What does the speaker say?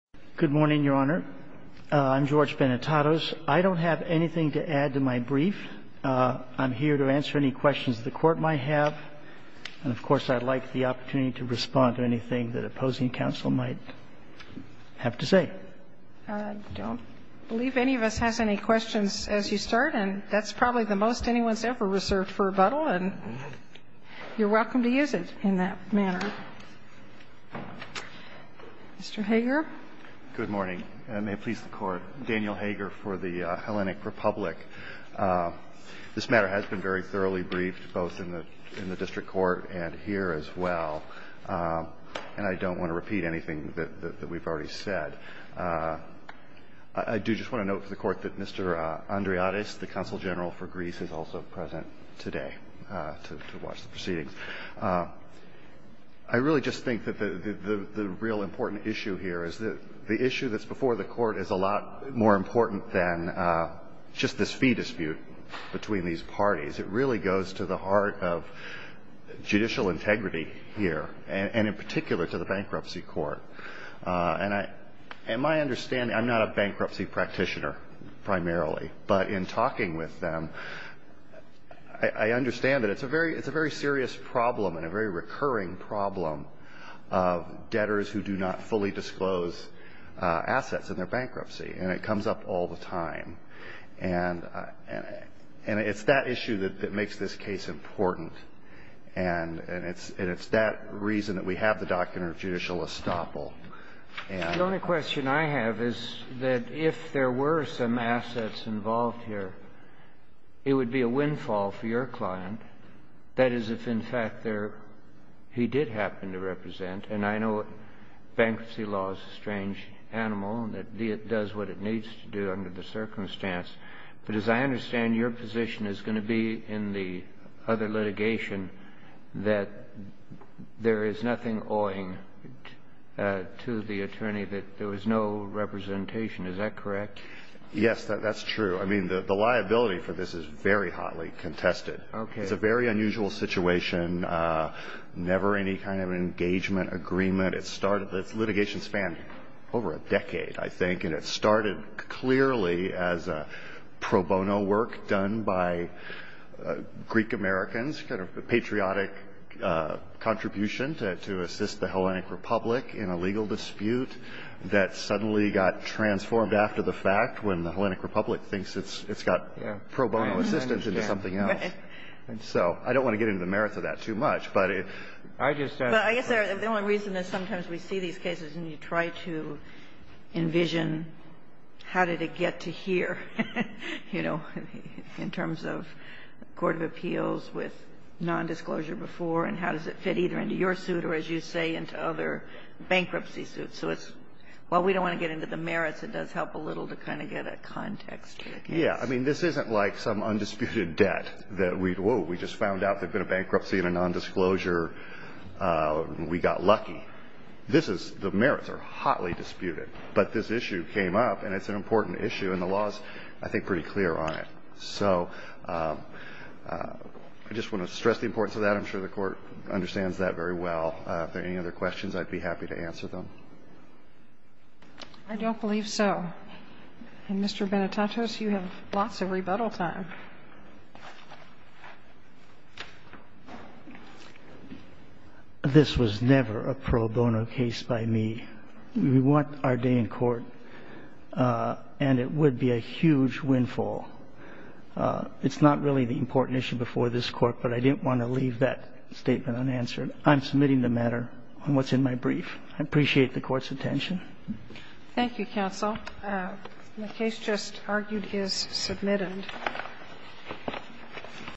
Good morning, Your Honor. I'm George Benetatos. I don't have anything to add to my brief. I'm here to answer any questions the Court might have, and, of course, I'd like the opportunity to respond to anything that opposing counsel might have to say. I don't believe any of us has any questions as you start, and that's probably the most anyone's ever reserved for rebuttal, and you're welcome to use it in that manner. Mr. Hager. Good morning. May it please the Court. Daniel Hager for the Hellenic Republic. This matter has been very thoroughly briefed both in the district court and here as well, and I don't want to repeat anything that we've already said. I do just want to note for the Court that Mr. Andriades, the counsel general for Greece, is also present today to watch the proceedings. I really just think that the real important issue here is that the issue that's before the Court is a lot more important than just this fee dispute between these parties. It really goes to the heart of judicial integrity here, and in particular to the bankruptcy court. And my understanding, I'm not a bankruptcy practitioner primarily, but in talking with them, I understand that it's a very serious problem and a very recurring problem of debtors who do not fully disclose assets in their bankruptcy, and it comes up all the time. And it's that issue that makes this case important, and it's that reason that we have the Doctrine of Judicial Estoppel. The only question I have is that if there were some assets involved here, it would be a windfall for your client. That is, if in fact there he did happen to represent, and I know bankruptcy law is a strange animal, and it does what it needs to do under the circumstance. But as I understand, your position is going to be in the other litigation that there is nothing owing to the attorney that there was no representation. Is that correct? Yes, that's true. I mean, the liability for this is very hotly contested. Okay. It's a very unusual situation, never any kind of engagement, agreement. It's litigation spanned over a decade, I think. And it started clearly as a pro bono work done by Greek-Americans, kind of a patriotic contribution to assist the Hellenic Republic in a legal dispute that suddenly got transformed after the fact when the Hellenic Republic thinks it's got pro bono assistance into something else. And so I don't want to get into the merits of that too much. But I just don't know. But I guess the only reason is sometimes we see these cases and you try to envision how did it get to here, you know, in terms of court of appeals with nondisclosure before, and how does it fit either into your suit or, as you say, into other bankruptcy suits. So it's well, we don't want to get into the merits. It does help a little to kind of get a context to the case. Yeah. I mean, this isn't like some undisputed debt that we'd, whoa, we just found out there was nondisclosure. We got lucky. This is, the merits are hotly disputed. But this issue came up, and it's an important issue, and the law is, I think, pretty clear on it. So I just want to stress the importance of that. I'm sure the Court understands that very well. If there are any other questions, I'd be happy to answer them. I don't believe so. And, Mr. Benitatis, you have lots of rebuttal time. This was never a pro bono case by me. We want our day in court, and it would be a huge windfall. It's not really the important issue before this Court, but I didn't want to leave that statement unanswered. I'm submitting the matter on what's in my brief. I appreciate the Court's attention. Thank you, counsel. The case just argued is submitted. Thank you.